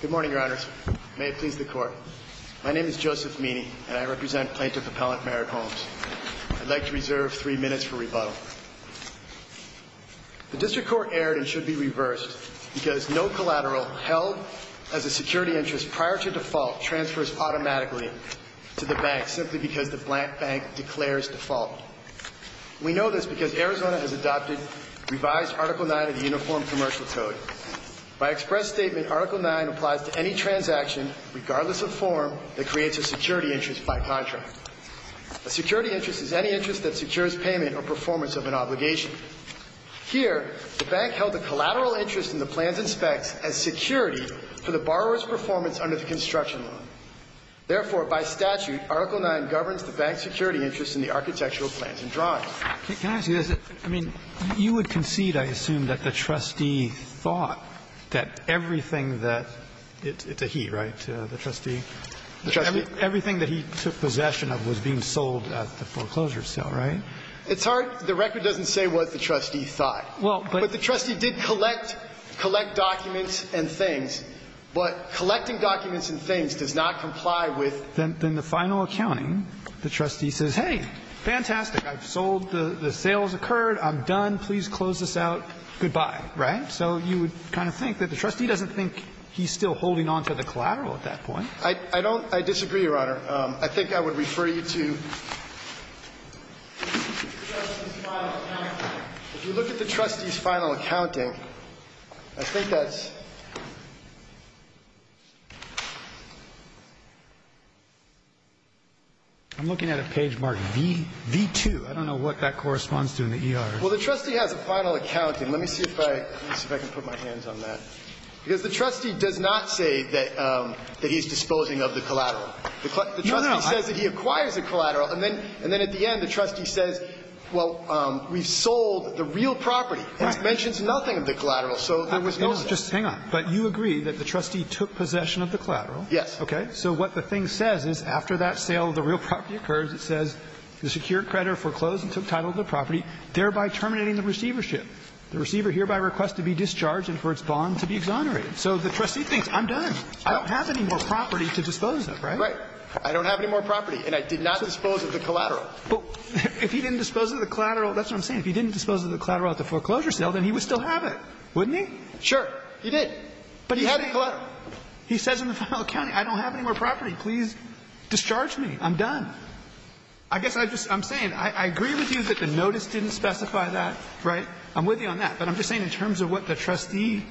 Good morning, Your Honors. May it please the Court. My name is Joseph Meany, and I represent Plaintiff Appellant Merit Homes. I'd like to reserve three minutes for rebuttal. The District Court erred and should be reversed because no collateral held as a security interest prior to default transfers automatically to the bank simply because the blank bank declares default. We know this because Arizona has adopted revised Article 9 of the Uniform Commercial Code. By express statement, Article 9 applies to any transaction, regardless of form, that creates a security interest by contract. A security interest is any interest that secures payment or performance of an obligation. Here, the bank held a collateral interest in the plans and specs as security for the borrower's performance under the construction law. Therefore, by statute, Article 9 governs the bank's security interest in the architectural plans and drawings. Can I ask you this? I mean, you would concede, I assume, that the trustee thought that everything that he, right, the trustee? The trustee. Everything that he took possession of was being sold at the foreclosure sale, right? It's hard. The record doesn't say what the trustee thought. Well, but the trustee did collect documents and things. But collecting documents and things does not comply with. Then the final accounting, the trustee says, hey, fantastic. I've sold. The sales occurred. I'm done. Please close this out. Goodbye, right? So you would kind of think that the trustee doesn't think he's still holding on to the collateral at that point. I don't. I disagree, Your Honor. I think I would refer you to the trustee's final accounting. If you look at the trustee's final accounting, I think that's... I'm looking at a page marked V2. I don't know what that corresponds to in the ER. Well, the trustee has a final accounting. Let me see if I can put my hands on that. Because the trustee does not say that he's disposing of the collateral. The trustee says that he acquires the collateral. And then at the end, the trustee says, well, we've sold the real property. It mentions nothing of the collateral. So there was no sale. Hang on. But you agree that the trustee took possession of the collateral? Yes. Okay. So what the thing says is after that sale of the real property occurs, it says, the secured creditor foreclosed and took title of the property, thereby terminating the receivership. The receiver hereby requests to be discharged and for its bond to be exonerated. So the trustee thinks, I'm done. I don't have any more property to dispose of, right? Right. I don't have any more property. And I did not dispose of the collateral. But if he didn't dispose of the collateral, that's what I'm saying, if he didn't dispose of the collateral at the foreclosure sale, then he would still have it, wouldn't he? Sure. He did. But he had the collateral. He says in the final accounting, I don't have any more property. Please discharge me. I'm done. I guess I just am saying, I agree with you that the notice didn't specify that, right? I'm with you on that. But I'm just saying in terms of what the trustee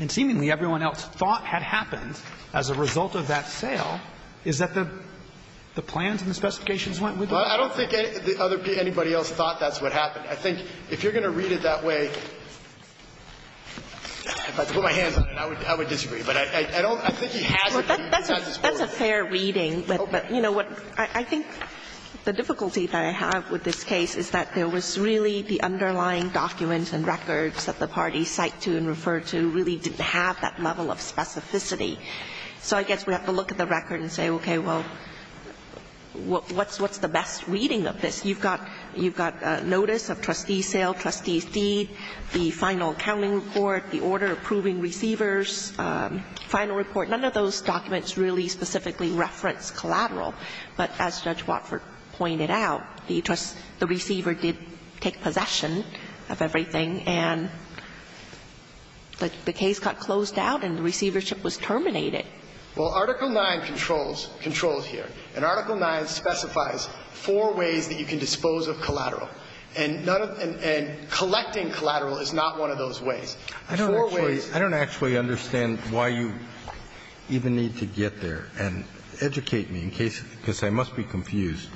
and seemingly everyone else thought had happened as a result of that sale, is that the plans and the specifications went with that? Well, I don't think anybody else thought that's what happened. I think if you're going to read it that way, if I had to put my hands on it, I would disagree. But I don't think he has it. That's a fair reading. But you know what? I think the difficulty that I have with this case is that there was really the underlying documents and records that the parties cite to and refer to really didn't have that level of specificity. So I guess we have to look at the record and say, okay, well, what's the best reading of this? You've got notice of trustee sale, trustee's deed, the final accounting report, the order approving receivers, final report. None of those documents really specifically reference collateral. But as Judge Watford pointed out, the receiver did take possession of everything and the case got closed out and the receivership was terminated. Well, Article 9 controls here. And Article 9 specifies four ways that you can dispose of collateral. And none of the – and collecting collateral is not one of those ways. Four ways. I don't actually understand why you even need to get there and educate me in case – because I must be confused.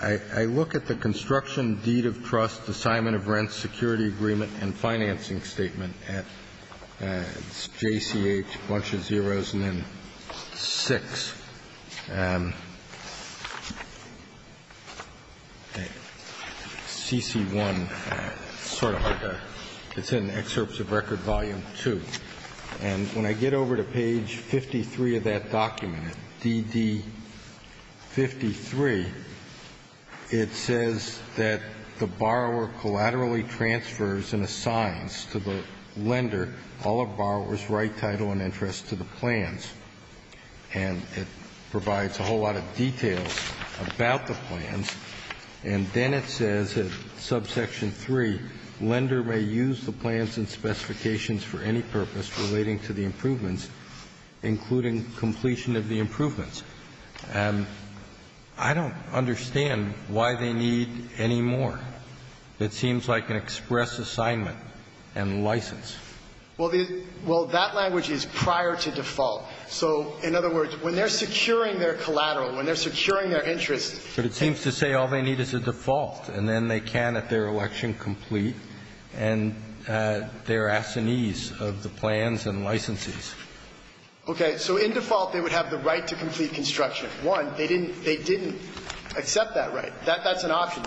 I look at the construction, deed of trust, assignment of rent, security agreement and financing statement at JCH, a bunch of zeros, and then 6. CC1, sort of like a – it's in Excerpts of Record, Volume 2. And when I get over to page 53 of that document, DD53, it says that the borrower collaterally transfers and assigns to the lender all of borrower's right, title and interest to the plans. And it provides a whole lot of details about the plans. And then it says in subsection 3, lender may use the plans and specifications for any purpose relating to the improvements, including completion of the improvements. I don't understand why they need any more. It seems like an express assignment and license. Well, the – well, that language is prior to default. So in other words, when they're securing their collateral, when they're securing their interest – But it seems to say all they need is a default. And then they can, at their election, complete and their assignees of the plans and licensees. Okay. So in default, they would have the right to complete construction. One, they didn't – they didn't accept that right. That's an option.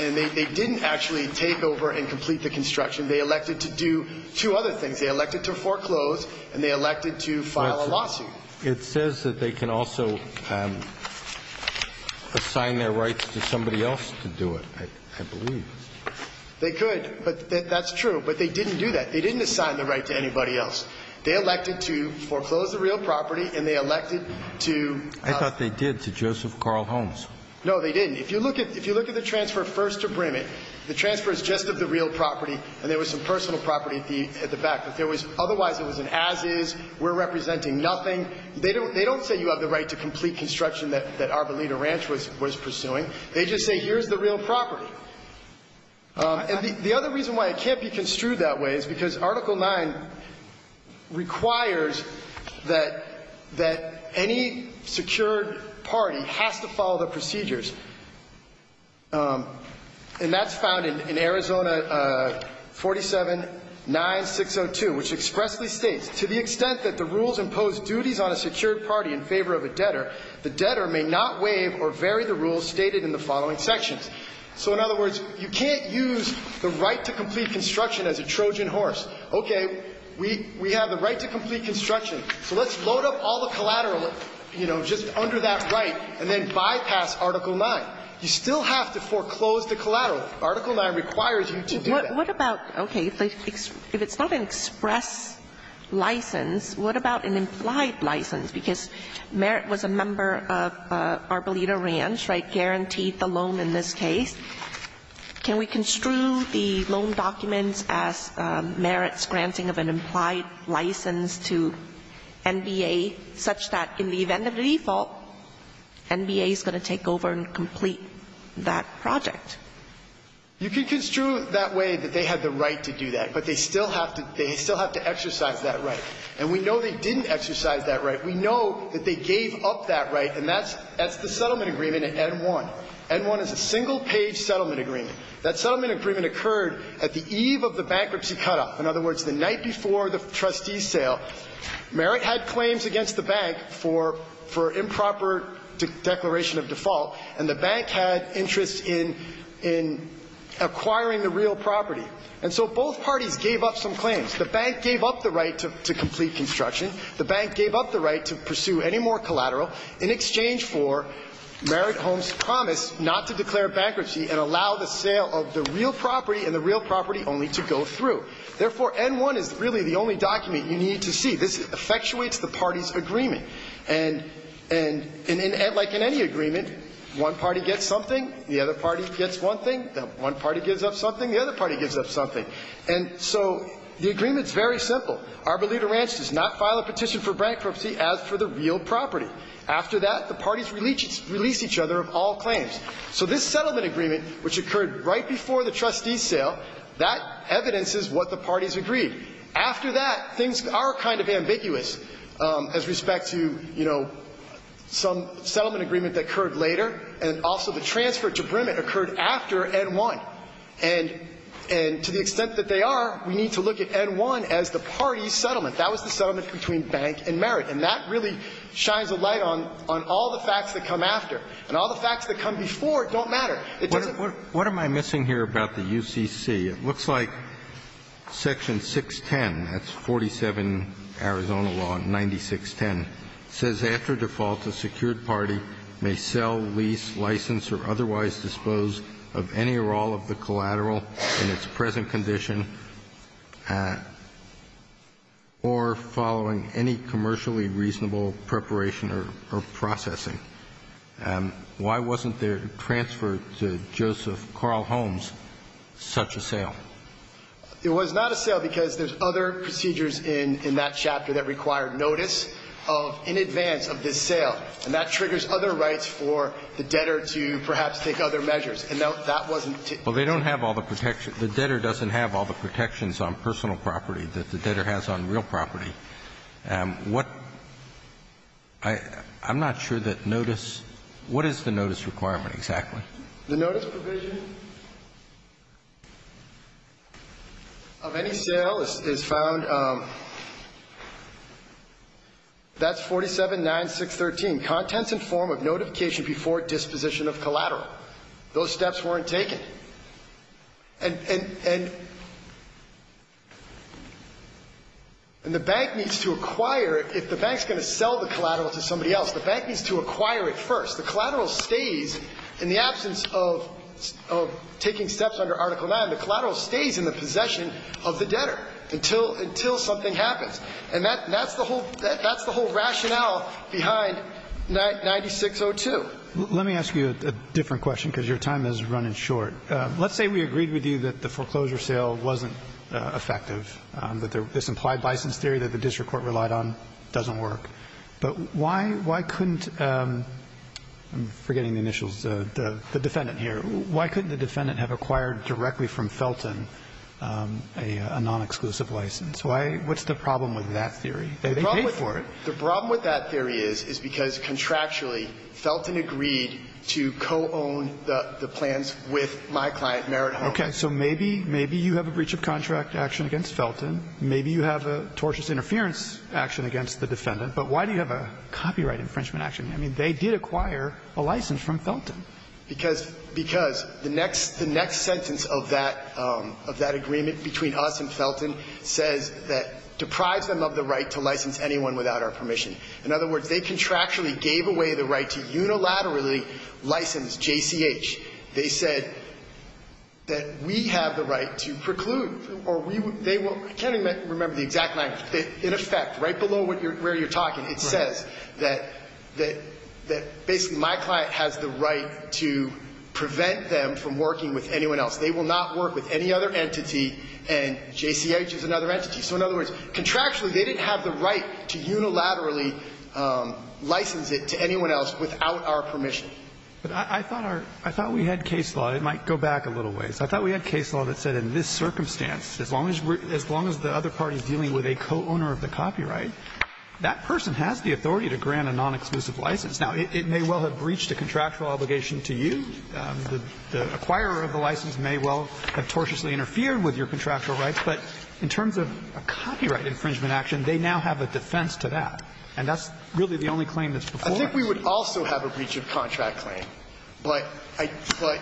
And they didn't actually take over and complete the construction. They elected to do two other things. They elected to foreclose and they elected to file a lawsuit. It says that they can also assign their rights to somebody else to do it, I believe. They could. But that's true. But they didn't do that. They didn't assign the right to anybody else. They elected to foreclose the real property and they elected to – I thought they did to Joseph Carl Holmes. No, they didn't. If you look at – if you look at the transfer first to Brimitt, the transfer is just of the real property and there was some personal property at the back. If there was – otherwise, it was an as-is, we're representing nothing. They don't say you have the right to complete construction that Arboleda Ranch was pursuing. They just say here's the real property. And the other reason why it can't be construed that way is because Article 9 requires that any secured party has to follow the procedures. And that's found in Arizona 47-9602, which expressly states, to the extent that the rules impose duties on a secured party in favor of a debtor, the debtor may not waive or vary the rules stated in the following sections. So in other words, you can't use the right to complete construction as a Trojan horse. Okay, we have the right to complete construction. So let's load up all the collateral, you know, just under that right and then bypass Article 9. You still have to foreclose the collateral. Article 9 requires you to do that. What about – okay, if it's not an express license, what about an implied license? Because Merritt was a member of Arboleda Ranch, right, guaranteed the loan in this case. Can we construe the loan documents as Merritt's granting of an implied license to NBA such that in the event of a default, NBA is going to take over and complete that project? You can construe it that way, that they had the right to do that, but they still have to – they still have to exercise that right. And we know they didn't exercise that right. We know that they gave up that right, and that's – that's the settlement agreement at N-1. N-1 is a single-page settlement agreement. That settlement agreement occurred at the eve of the bankruptcy cutoff. In other words, the night before the trustees' sale, Merritt had claims against the bank for improper declaration of default, and the bank had interest in acquiring the real property. And so both parties gave up some claims. The bank gave up the right to complete construction. The bank gave up the right to pursue any more collateral in exchange for Merritt Holmes' promise not to declare bankruptcy and allow the sale of the real property and the real property only to go through. Therefore, N-1 is really the only document you need to see. This effectuates the parties' agreement. And – and like in any agreement, one party gets something, the other party gets one thing, one party gives up something, the other party gives up something. And so the agreement's very simple. Arboleda Ranch does not file a petition for bankruptcy as for the real property. After that, the parties release each other of all claims. So this settlement agreement, which occurred right before the trustees' sale, that evidences what the parties agreed. After that, things are kind of ambiguous as respect to, you know, some settlement agreement that occurred later and also the transfer to Brimit occurred after N-1. And – and to the extent that they are, we need to look at N-1 as the parties' settlement. That was the settlement between bank and Merritt. And that really shines a light on – on all the facts that come after and all the facts that come before it don't matter. It doesn't – What am I missing here about the UCC? It looks like section 610, that's 47 Arizona law 9610, says, After default, a secured party may sell, lease, license, or otherwise dispose of any or all of the collateral in its present condition or following any commercially reasonable preparation or processing. Why wasn't their transfer to Joseph Carl Holmes such a sale? It was not a sale because there's other procedures in – in that chapter that require notice of – in advance of this sale. And that triggers other rights for the debtor to perhaps take other measures. And that wasn't to – Well, they don't have all the protection – the debtor doesn't have all the protections on personal property that the debtor has on real property. What – I – I'm not sure that notice – what is the notice requirement exactly? The notice provision of any sale is found – that's 479613, Contents in form of notification before disposition of collateral. Those steps weren't taken. And – and – and the bank needs to acquire – if the bank's going to sell the collateral to somebody else, the bank needs to acquire it first. The collateral stays in the absence of – of taking steps under Article 9. The collateral stays in the possession of the debtor until – until something happens. And that – that's the whole – that's the whole rationale behind 9602. Let me ask you a different question because your time is running short. Let's say we agreed with you that the foreclosure sale wasn't effective, that this implied license theory that the district court relied on doesn't work. But why – why couldn't – I'm forgetting the initials – the defendant here. Why couldn't the defendant have acquired directly from Felton a non-exclusive license? Why – what's the problem with that theory? They paid for it. The problem with that theory is, is because contractually, Felton agreed to co-own the – the plans with my client, Merritt Holmes. Okay. So maybe – maybe you have a breach of contract action against Felton. Maybe you have a tortious interference action against the defendant. But why do you have a copyright infringement action? I mean, they did acquire a license from Felton. Because – because the next – the next sentence of that – of that agreement between us and Felton says that deprives them of the right to license anyone without our permission. In other words, they contractually gave away the right to unilaterally license JCH. They said that we have the right to preclude or we – they will – I can't even remember the exact line. In effect, right below what you're – where you're talking, it says that – that basically my client has the right to prevent them from working with anyone else. They will not work with any other entity, and JCH is another entity. So in other words, contractually, they didn't have the right to unilaterally license it to anyone else without our permission. But I thought our – I thought we had case law. It might go back a little ways. I thought we had case law that said in this circumstance, as long as – as long as the other party is dealing with a co-owner of the copyright, that person has the authority to grant a nonexclusive license. Now, it may well have breached a contractual obligation to you. The acquirer of the license may well have tortiously interfered with your contractual rights, but in terms of a copyright infringement action, they now have a defense to that, and that's really the only claim that's before us. I think we would also have a breach of contract claim, but I – but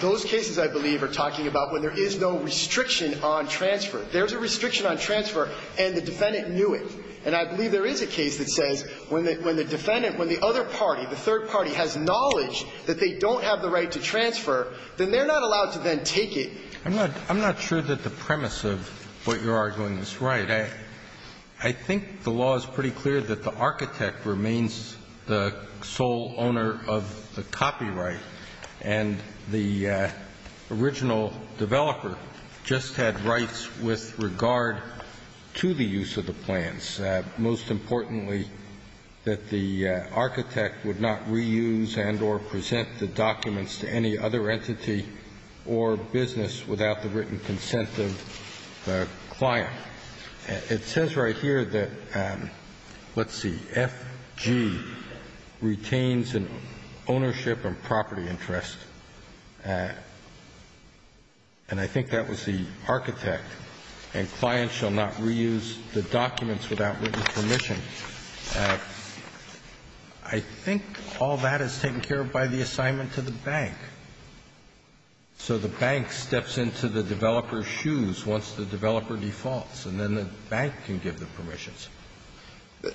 those cases, I believe, are talking about when there is no restriction on transfer. There's a restriction on transfer, and the defendant knew it. And I believe there is a case that says when the – when the defendant – when the other party, the third party, has knowledge that they don't have the right to transfer, then they're not allowed to then take it. I'm not – I'm not sure that the premise of what you're arguing is right. I think the law is pretty clear that the architect remains the sole owner of the copyright, and the original developer just had rights with regard to the use of the plans. Most importantly, that the architect would not reuse and or present the documents to any other entity or business without the written consent of the client. It says right here that, let's see, F.G. retains an ownership and property interest. And I think that was the architect. And clients shall not reuse the documents without written permission. I think all that is taken care of by the assignment to the bank. So the bank steps into the developer's shoes once the developer defaults, and then the bank can give the permissions.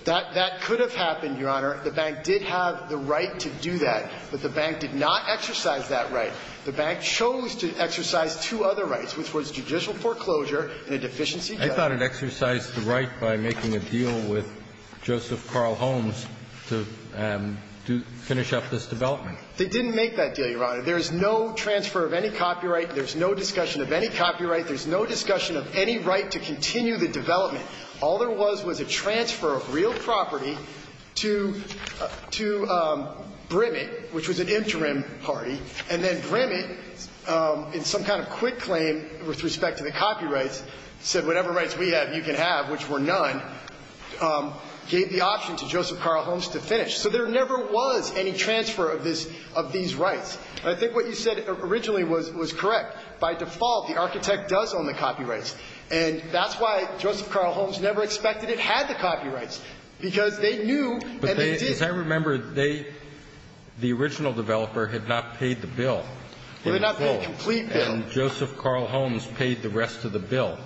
That could have happened, Your Honor. The bank did have the right to do that. But the bank did not exercise that right. The bank chose to exercise two other rights, which was judicial foreclosure and a deficiency debt. I thought it exercised the right by making a deal with Joseph Carl Holmes to finish up this development. They didn't make that deal, Your Honor. There is no transfer of any copyright. There is no discussion of any copyright. There is no discussion of any right to continue the development. All there was was a transfer of real property to Brimit, which was an interim party, and then Brimit, in some kind of quick claim with respect to the copyrights, said whatever rights we have, you can have, which were none, gave the option to Joseph Carl Holmes to finish. So there never was any transfer of these rights. I think what you said originally was correct. By default, the architect does own the copyrights. And that's why Joseph Carl Holmes never expected it had the copyrights, because they knew and they did. But they, as I remember, they, the original developer had not paid the bill. Well, they did not pay the complete bill. And Joseph Carl Holmes paid the rest of the bill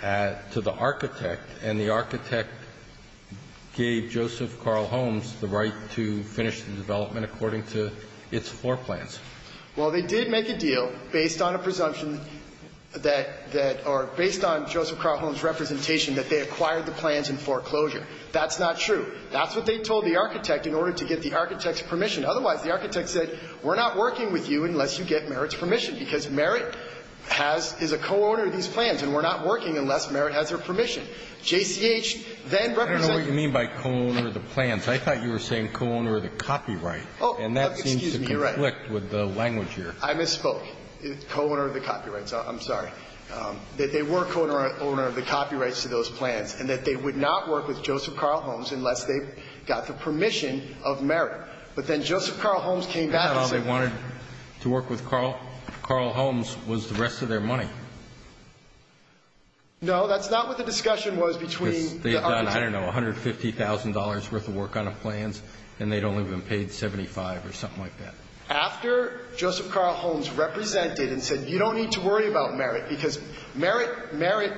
to the architect, and the architect gave Joseph Carl Holmes the right to finish the development according to its floor Well, they did make a deal based on a presumption that, that, or based on Joseph Carl Holmes' representation that they acquired the plans in foreclosure. That's not true. That's what they told the architect in order to get the architect's permission. Otherwise, the architect said, we're not working with you unless you get Merit's permission, because Merit has, is a co-owner of these plans, and we're not working unless Merit has their permission. JCH then represented you. I don't know what you mean by co-owner of the plans. I thought you were saying co-owner of the copyright. Oh, excuse me. You're right. I'm trying to conflict with the language here. I misspoke. Co-owner of the copyrights. I'm sorry. They were co-owner of the copyrights to those plans, and that they would not work with Joseph Carl Holmes unless they got the permission of Merit. But then Joseph Carl Holmes came back and said they wanted to work with Carl. Carl Holmes was the rest of their money. No, that's not what the discussion was between the architects. Because they had done, I don't know, $150,000 worth of work on the plans, and they had only been paid $75,000 or something like that. After Joseph Carl Holmes represented and said you don't need to worry about Merit because Merit, Merit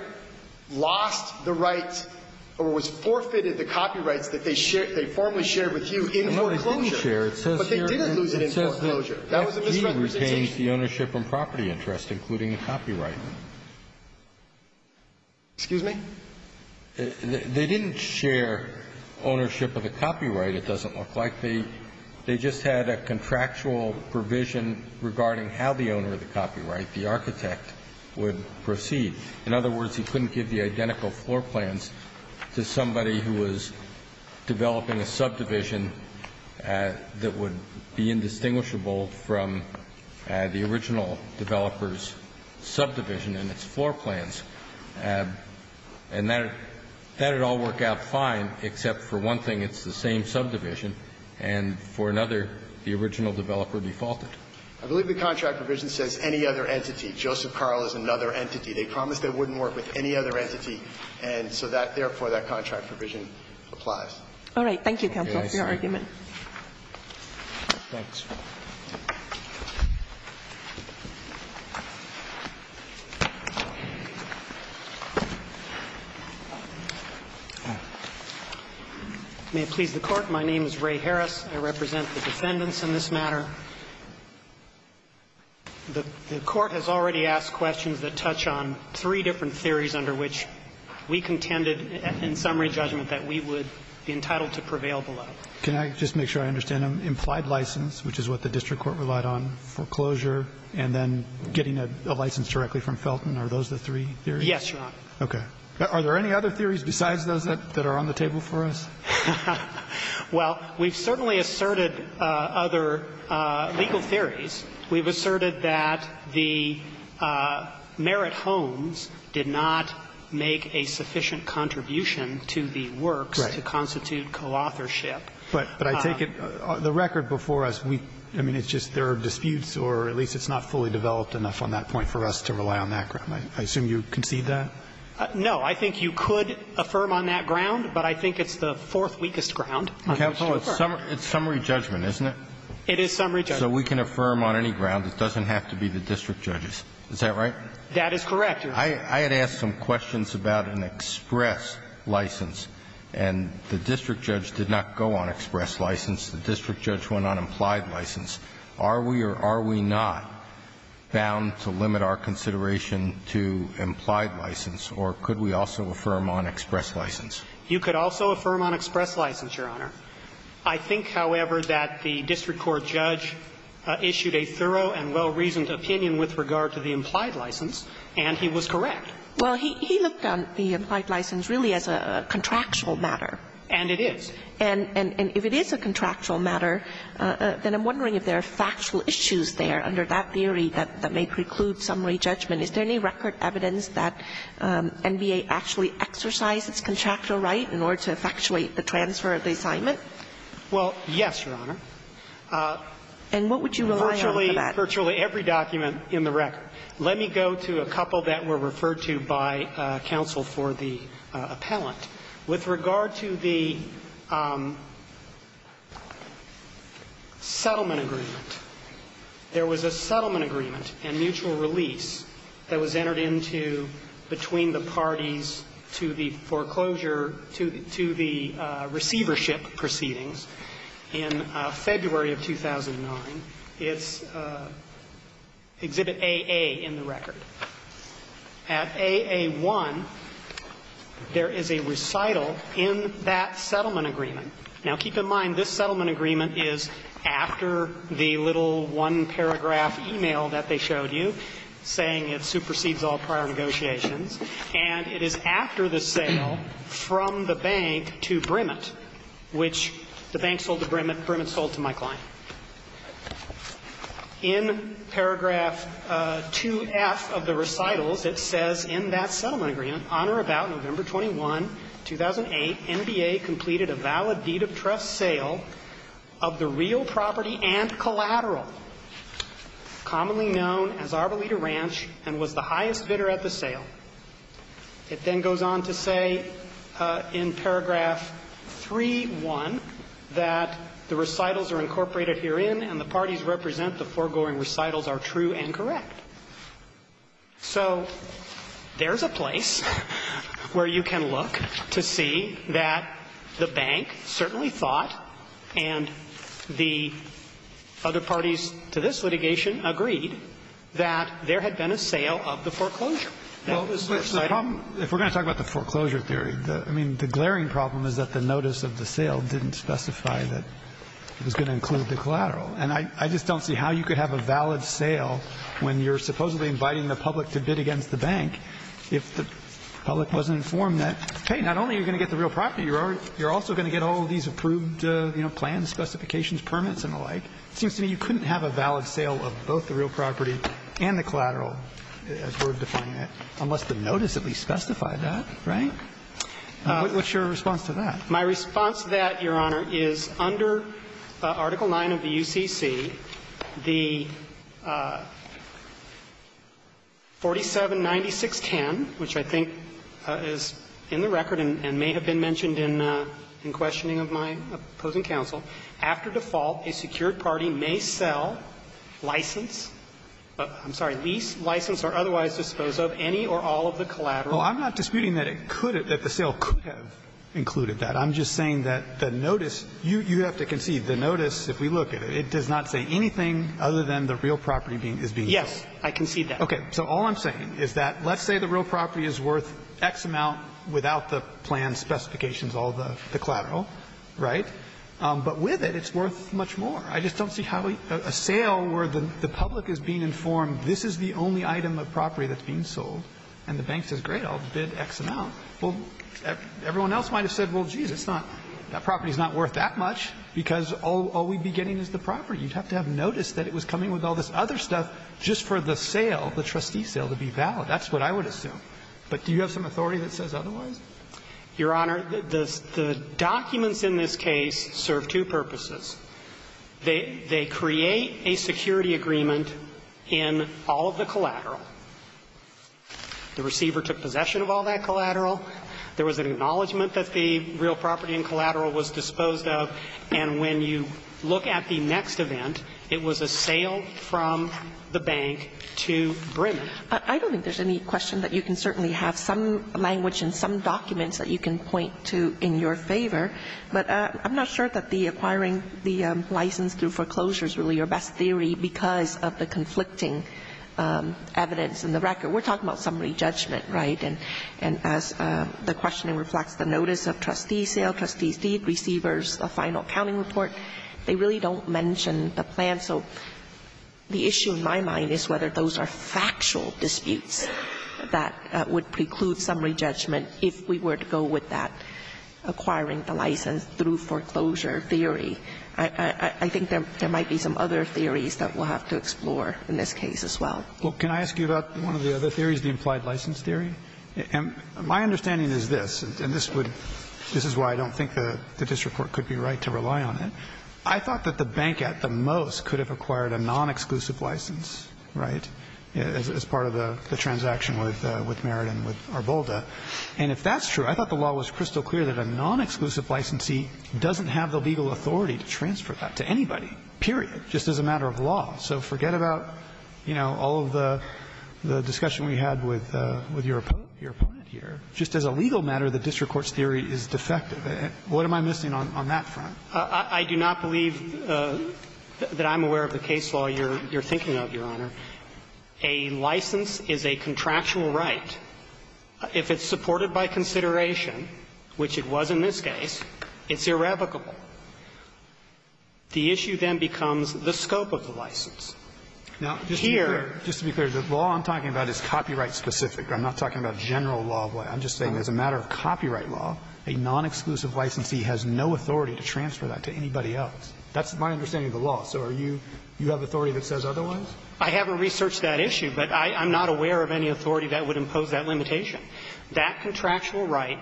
lost the rights or was forfeited the copyrights that they share they formally shared with you in foreclosure. No, they didn't share. But they didn't lose it in foreclosure. That was a misrepresentation. It says here that he retains the ownership and property interest, including the copyright. Excuse me? They didn't share ownership of the copyright, it doesn't look like. They just had a contractual provision regarding how the owner of the copyright, the architect, would proceed. In other words, he couldn't give the identical floor plans to somebody who was developing a subdivision that would be indistinguishable from the original developer's subdivision and its floor plans. And that had all worked out fine, except for one thing, it's the same subdivision and for another, the original developer defaulted. I believe the contract provision says any other entity. Joseph Carl is another entity. They promised they wouldn't work with any other entity, and so that, therefore, that contract provision applies. Thank you, counsel, for your argument. Okay. I'm sorry. Thanks. May it please the Court. My name is Ray Harris. I represent the defendants in this matter. The Court has already asked questions that touch on three different theories under which we contended in summary judgment that we would be entitled to prevail below. Can I just make sure I understand them? Implied license, which is what the district court relied on, foreclosure, and then getting a license directly from Felton, are those the three theories? Yes, Your Honor. Okay. Are there any other theories besides those that are on the table for us? Well, we've certainly asserted other legal theories. We've asserted that the Merritt Homes did not make a sufficient contribution to the works to constitute coauthorship. But I take it the record before us, I mean, it's just there are disputes or at least it's not fully developed enough on that point for us to rely on that ground. I assume you concede that? No. I think you could affirm on that ground, but I think it's the fourth weakest ground on which to affirm. Counsel, it's summary judgment, isn't it? It is summary judgment. So we can affirm on any ground. It doesn't have to be the district judges. Is that right? That is correct, Your Honor. I had asked some questions about an express license, and the district judge did not go on express license. The district judge went on implied license. Are we or are we not bound to limit our consideration to implied license, or could we also affirm on express license? You could also affirm on express license, Your Honor. I think, however, that the district court judge issued a thorough and well-reasoned opinion with regard to the implied license, and he was correct. Well, he looked on the implied license really as a contractual matter. And it is. And if it is a contractual matter, then I'm wondering if there are factual issues there under that theory that may preclude summary judgment. Is there any record evidence that NBA actually exercised its contractual right in order to effectuate the transfer of the assignment? Well, yes, Your Honor. And what would you rely on for that? Virtually every document in the record. Let me go to a couple that were referred to by counsel for the appellant. With regard to the settlement agreement, there was a settlement agreement and mutual release that was entered into between the parties to the foreclosure to the receivership proceedings in February of 2009. It's Exhibit AA in the record. At AA1, there is a recital in that settlement agreement. Now, keep in mind, this settlement agreement is after the little one-paragraph e-mail that they showed you saying it supersedes all prior negotiations. And it is after the sale from the bank to Brimit, which the bank sold to Brimit, and Brimit sold to my client. In paragraph 2F of the recitals, it says in that settlement agreement, Honor about November 21, 2008, NBA completed a valid deed of trust sale of the real property and collateral, commonly known as Arbolita Ranch, and was the highest bidder at the sale. It then goes on to say in paragraph 3.1 that the recitals are incorporated herein and the parties represent the foregoing recitals are true and correct. So there's a place where you can look to see that the bank certainly thought, and the other parties to this litigation agreed, that there had been a sale of the foreclosure. Well, the problem, if we're going to talk about the foreclosure theory, I mean, the glaring problem is that the notice of the sale didn't specify that it was going to include the collateral. And I just don't see how you could have a valid sale when you're supposedly inviting the public to bid against the bank if the public wasn't informed that, hey, not only are you going to get the real property, you're also going to get all these approved plans, specifications, permits, and the like. It seems to me you couldn't have a valid sale of both the real property and the collateral, as we're defining it, unless the notice at least specified that, right? What's your response to that? My response to that, Your Honor, is under Article 9 of the UCC, the 479610, which I think is in the record and may have been mentioned in questioning of my opposing counsel, after default, a secured party may sell, license, I'm sorry, lease, license or otherwise dispose of any or all of the collateral. Well, I'm not disputing that it could have, that the sale could have included that. I'm just saying that the notice, you have to concede, the notice, if we look at it, it does not say anything other than the real property being, is being sold. Yes. I concede that. Okay. So all I'm saying is that let's say the real property is worth X amount without the plan specifications, all the collateral, right? But with it, it's worth much more. I just don't see how a sale where the public is being informed this is the only item of property that's being sold and the bank says, great, I'll bid X amount. Well, everyone else might have said, well, geez, it's not, that property is not worth that much because all we'd be getting is the property. You'd have to have noticed that it was coming with all this other stuff just for the sale, the trustee sale, to be valid. That's what I would assume. But do you have some authority that says otherwise? Your Honor, the documents in this case serve two purposes. They create a security agreement in all of the collateral. The receiver took possession of all that collateral. There was an acknowledgment that the real property and collateral was disposed of, and when you look at the next event, it was a sale from the bank to Bremen. I don't think there's any question that you can certainly have some language and some documents that you can point to in your favor, but I'm not sure that the acquiring the license through foreclosure is really your best theory because of the conflicting evidence in the record. We're talking about summary judgment, right? And as the questioning reflects the notice of trustee sale, trustee's deed, receiver's final accounting report, they really don't mention the plan. So the issue in my mind is whether those are factual disputes that would preclude summary judgment if we were to go with that, the license through foreclosure theory. I think there might be some other theories that we'll have to explore in this case as well. Well, can I ask you about one of the other theories, the implied license theory? My understanding is this, and this would – this is why I don't think the district court could be right to rely on it. I thought that the bank at the most could have acquired a non-exclusive license, right, as part of the transaction with Merritt and with Arbolda. And if that's true, I thought the law was crystal clear that a non-exclusive licensee doesn't have the legal authority to transfer that to anybody, period, just as a matter of law. So forget about, you know, all of the discussion we had with your opponent here. Just as a legal matter, the district court's theory is defective. What am I missing on that front? I do not believe that I'm aware of the case law you're thinking of, Your Honor. A license is a contractual right. If it's supported by consideration, which it was in this case, it's irrevocable. The issue then becomes the scope of the license. Here – Now, just to be clear, the law I'm talking about is copyright specific. I'm not talking about general law. I'm just saying as a matter of copyright law, a non-exclusive licensee has no authority to transfer that to anybody else. That's my understanding of the law. So are you – you have authority that says otherwise? I haven't researched that issue, but I'm not aware of any authority that would impose that limitation. That contractual right,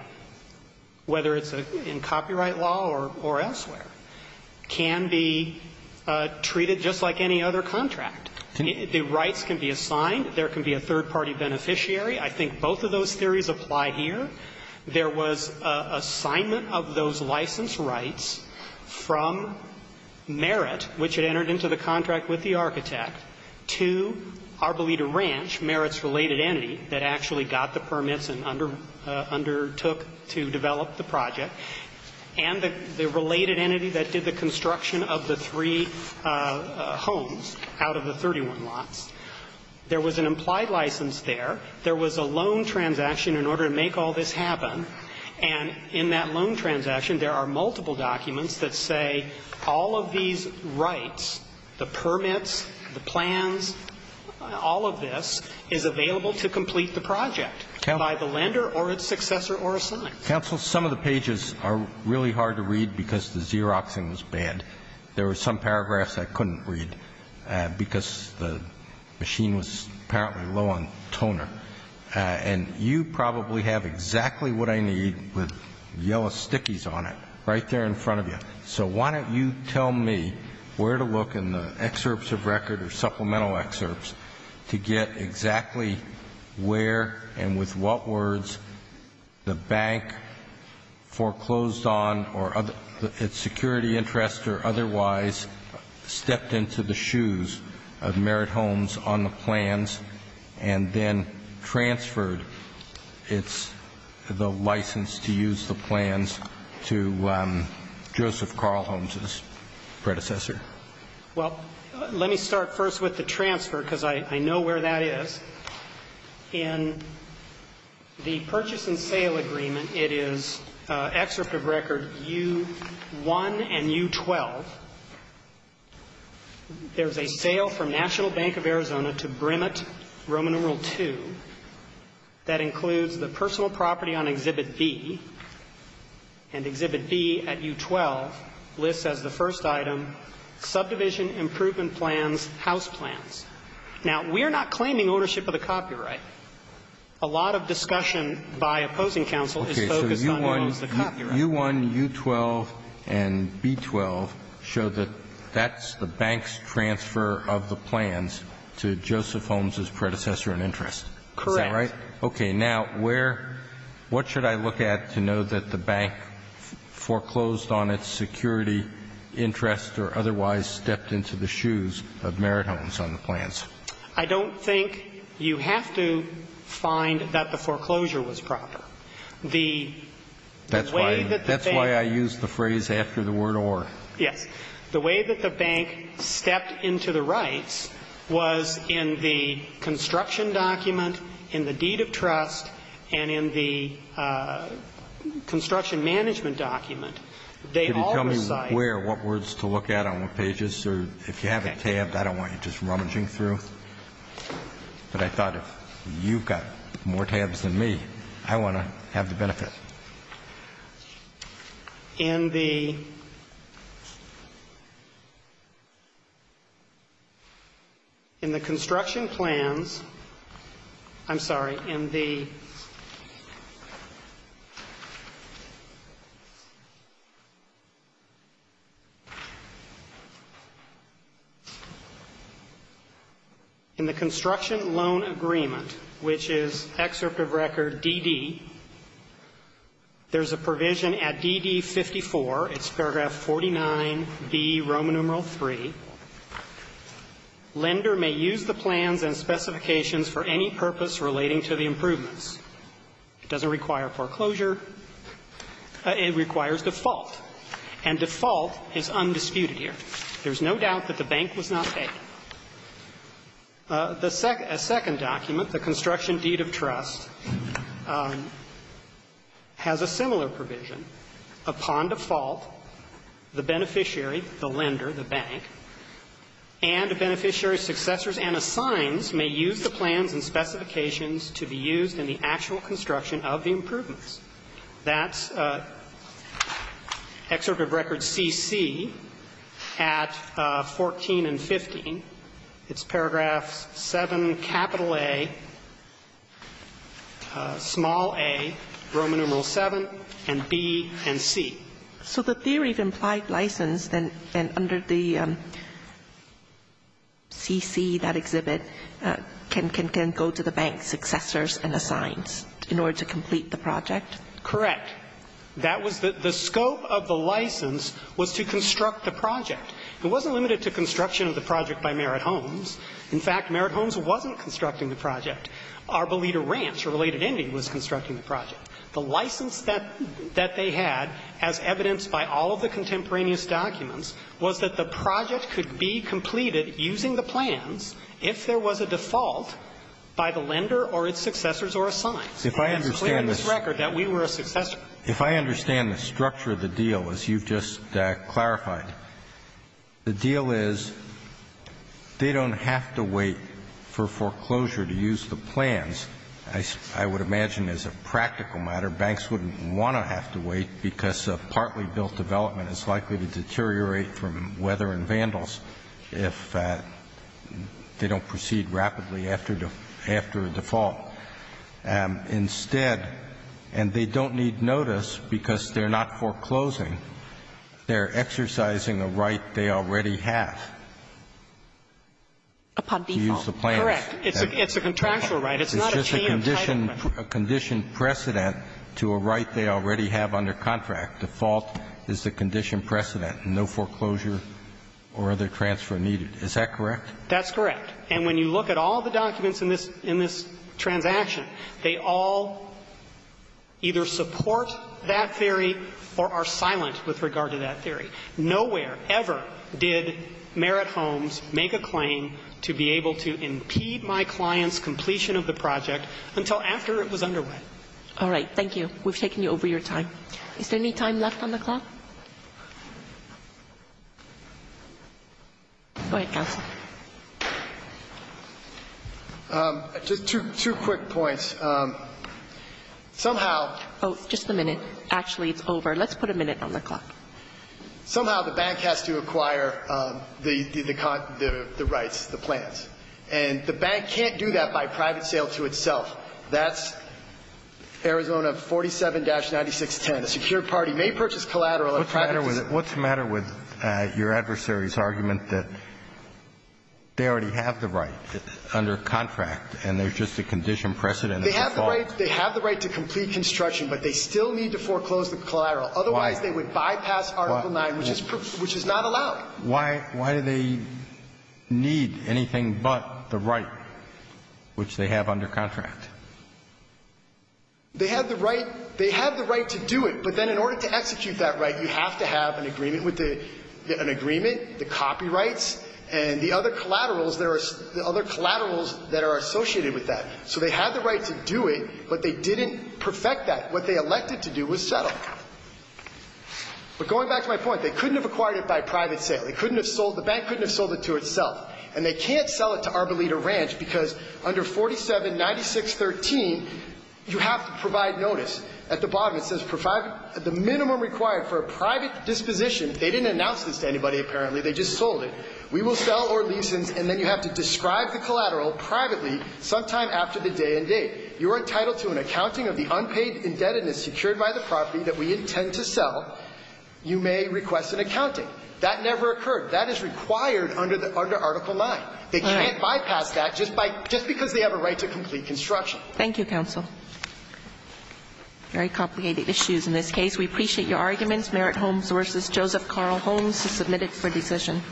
whether it's in copyright law or elsewhere, can be treated just like any other contract. The rights can be assigned. There can be a third-party beneficiary. I think both of those theories apply here. There was assignment of those license rights from merit, which had entered into the permits and undertook to develop the project, and the related entity that did the construction of the three homes out of the 31 lots. There was an implied license there. There was a loan transaction in order to make all this happen. And in that loan transaction, there are multiple documents that say all of these by the lender or its successor or assigned. Counsel, some of the pages are really hard to read because the Xeroxing was bad. There were some paragraphs I couldn't read because the machine was apparently low on toner. And you probably have exactly what I need with yellow stickies on it right there in front of you. So why don't you tell me where to look in the excerpts of record or supplemental excerpts to get exactly where and with what words the bank foreclosed on or its security interest or otherwise stepped into the shoes of Merit Homes on the plans and then transferred its the license to use the plans to Joseph Carl Holmes's predecessor? Well, let me start first with the transfer because I know where that is. In the purchase and sale agreement, it is excerpt of record U1 and U12. There's a sale from National Bank of Arizona to Brimit Roman numeral II that includes the personal property on Exhibit B, and Exhibit B at U12 lists as the first item subdivision improvement plans, house plans. Now, we are not claiming ownership of the copyright. A lot of discussion by opposing counsel is focused on Merit Homes, the copyright. Okay. So U1, U12, and B12 show that that's the bank's transfer of the plans to Joseph Holmes's predecessor in interest. Correct. Is that right? Okay. Now, where, what should I look at to know that the bank foreclosed on its security interest or otherwise stepped into the shoes of Merit Homes on the plans? I don't think you have to find that the foreclosure was proper. The way that they That's why, that's why I used the phrase after the word or. Yes. The way that the bank stepped into the rights was in the construction document, in the deed of trust, and in the construction management document. They all recite. Could you tell me where, what words to look at on what pages? Or if you have a tab, I don't want you just rummaging through. But I thought if you've got more tabs than me, I want to have the benefit. In the construction plans, I'm sorry. In the, in the construction loan agreement, which is excerpt of record DD, there's a provision at DD 54. It's paragraph 49B, Roman numeral 3. Lender may use the plans and specifications for any purpose relating to the improvements. It doesn't require foreclosure. It requires default. And default is undisputed here. There's no doubt that the bank was not paid. The second document, the construction deed of trust, has a similar provision. Upon default, the beneficiary, the lender, the bank, and the beneficiary's successors and assigns may use the plans and specifications to be used in the actual construction of the improvements. That's excerpt of record CC at 14 and 15. It's paragraph 7 capital A, small a, Roman numeral 7, and B and C. So the theory of implied license then under the CC, that exhibit, can go to the bank's successors and assigns in order to complete the project? Correct. That was the scope of the license was to construct the project. It wasn't limited to construction of the project by Merritt Homes. In fact, Merritt Homes wasn't constructing the project. Arbolita Ranch, a related entity, was constructing the project. The license that they had, as evidenced by all of the contemporaneous documents, was that the project could be completed using the plans if there was a default by the lender or its successors or assigns. And it's clear in this record that we were a successor. If I understand the structure of the deal as you've just clarified, the deal is they don't have to wait for foreclosure to use the plans, I would imagine, as a practical matter, banks wouldn't want to have to wait, because a partly built development is likely to deteriorate from weather and vandals if they don't proceed rapidly after a default. Instead, and they don't need notice because they're not foreclosing, they're exercising a right they already have to use the plans. Upon default, correct. It's a contractual right. It's not a team type of right. It's just a condition precedent to a right they already have under contract. Default is the condition precedent. No foreclosure or other transfer needed. Is that correct? That's correct. And when you look at all the documents in this transaction, they all either support that theory or are silent with regard to that theory. Nowhere ever did Merritt Homes make a claim to be able to impede my client's completion of the project until after it was under way. All right. Thank you. We've taken you over your time. Is there any time left on the clock? Go ahead, counsel. Just two quick points. Somehow Oh, just a minute. Actually, it's over. Let's put a minute on the clock. Somehow the bank has to acquire the rights, the plans, and the bank can't do that by private sale to itself. That's Arizona 47-9610. A secured party may purchase collateral at private sale. What's the matter with your adversary's argument that they already have the right under contract and there's just a condition precedent? They have the right to complete construction, but they still need to foreclose the collateral. Otherwise, they would bypass Article 9, which is not allowed. Why do they need anything but the right, which they have under contract? They had the right to do it, but then in order to execute that right, you have to have an agreement with the copyrights and the other collaterals that are associated with that. So they had the right to do it, but they didn't perfect that. What they elected to do was settle. But going back to my point, they couldn't have acquired it by private sale. The bank couldn't have sold it to itself, and they can't sell it to Arboleda Ranch because under 47-9613, you have to provide notice. At the bottom, it says provide the minimum required for a private disposition. They didn't announce this to anybody, apparently. They just sold it. We will sell or lease it, and then you have to describe the collateral privately sometime after the day and date. You are entitled to an accounting of the unpaid indebtedness secured by the property that we intend to sell. You may request an accounting. That never occurred. That is required under Article 9. They can't bypass that just because they have a right to complete construction. Thank you, counsel. Very complicated issues in this case. We appreciate your arguments. Merit Holmes v. Joseph Carl Holmes is submitted for decision.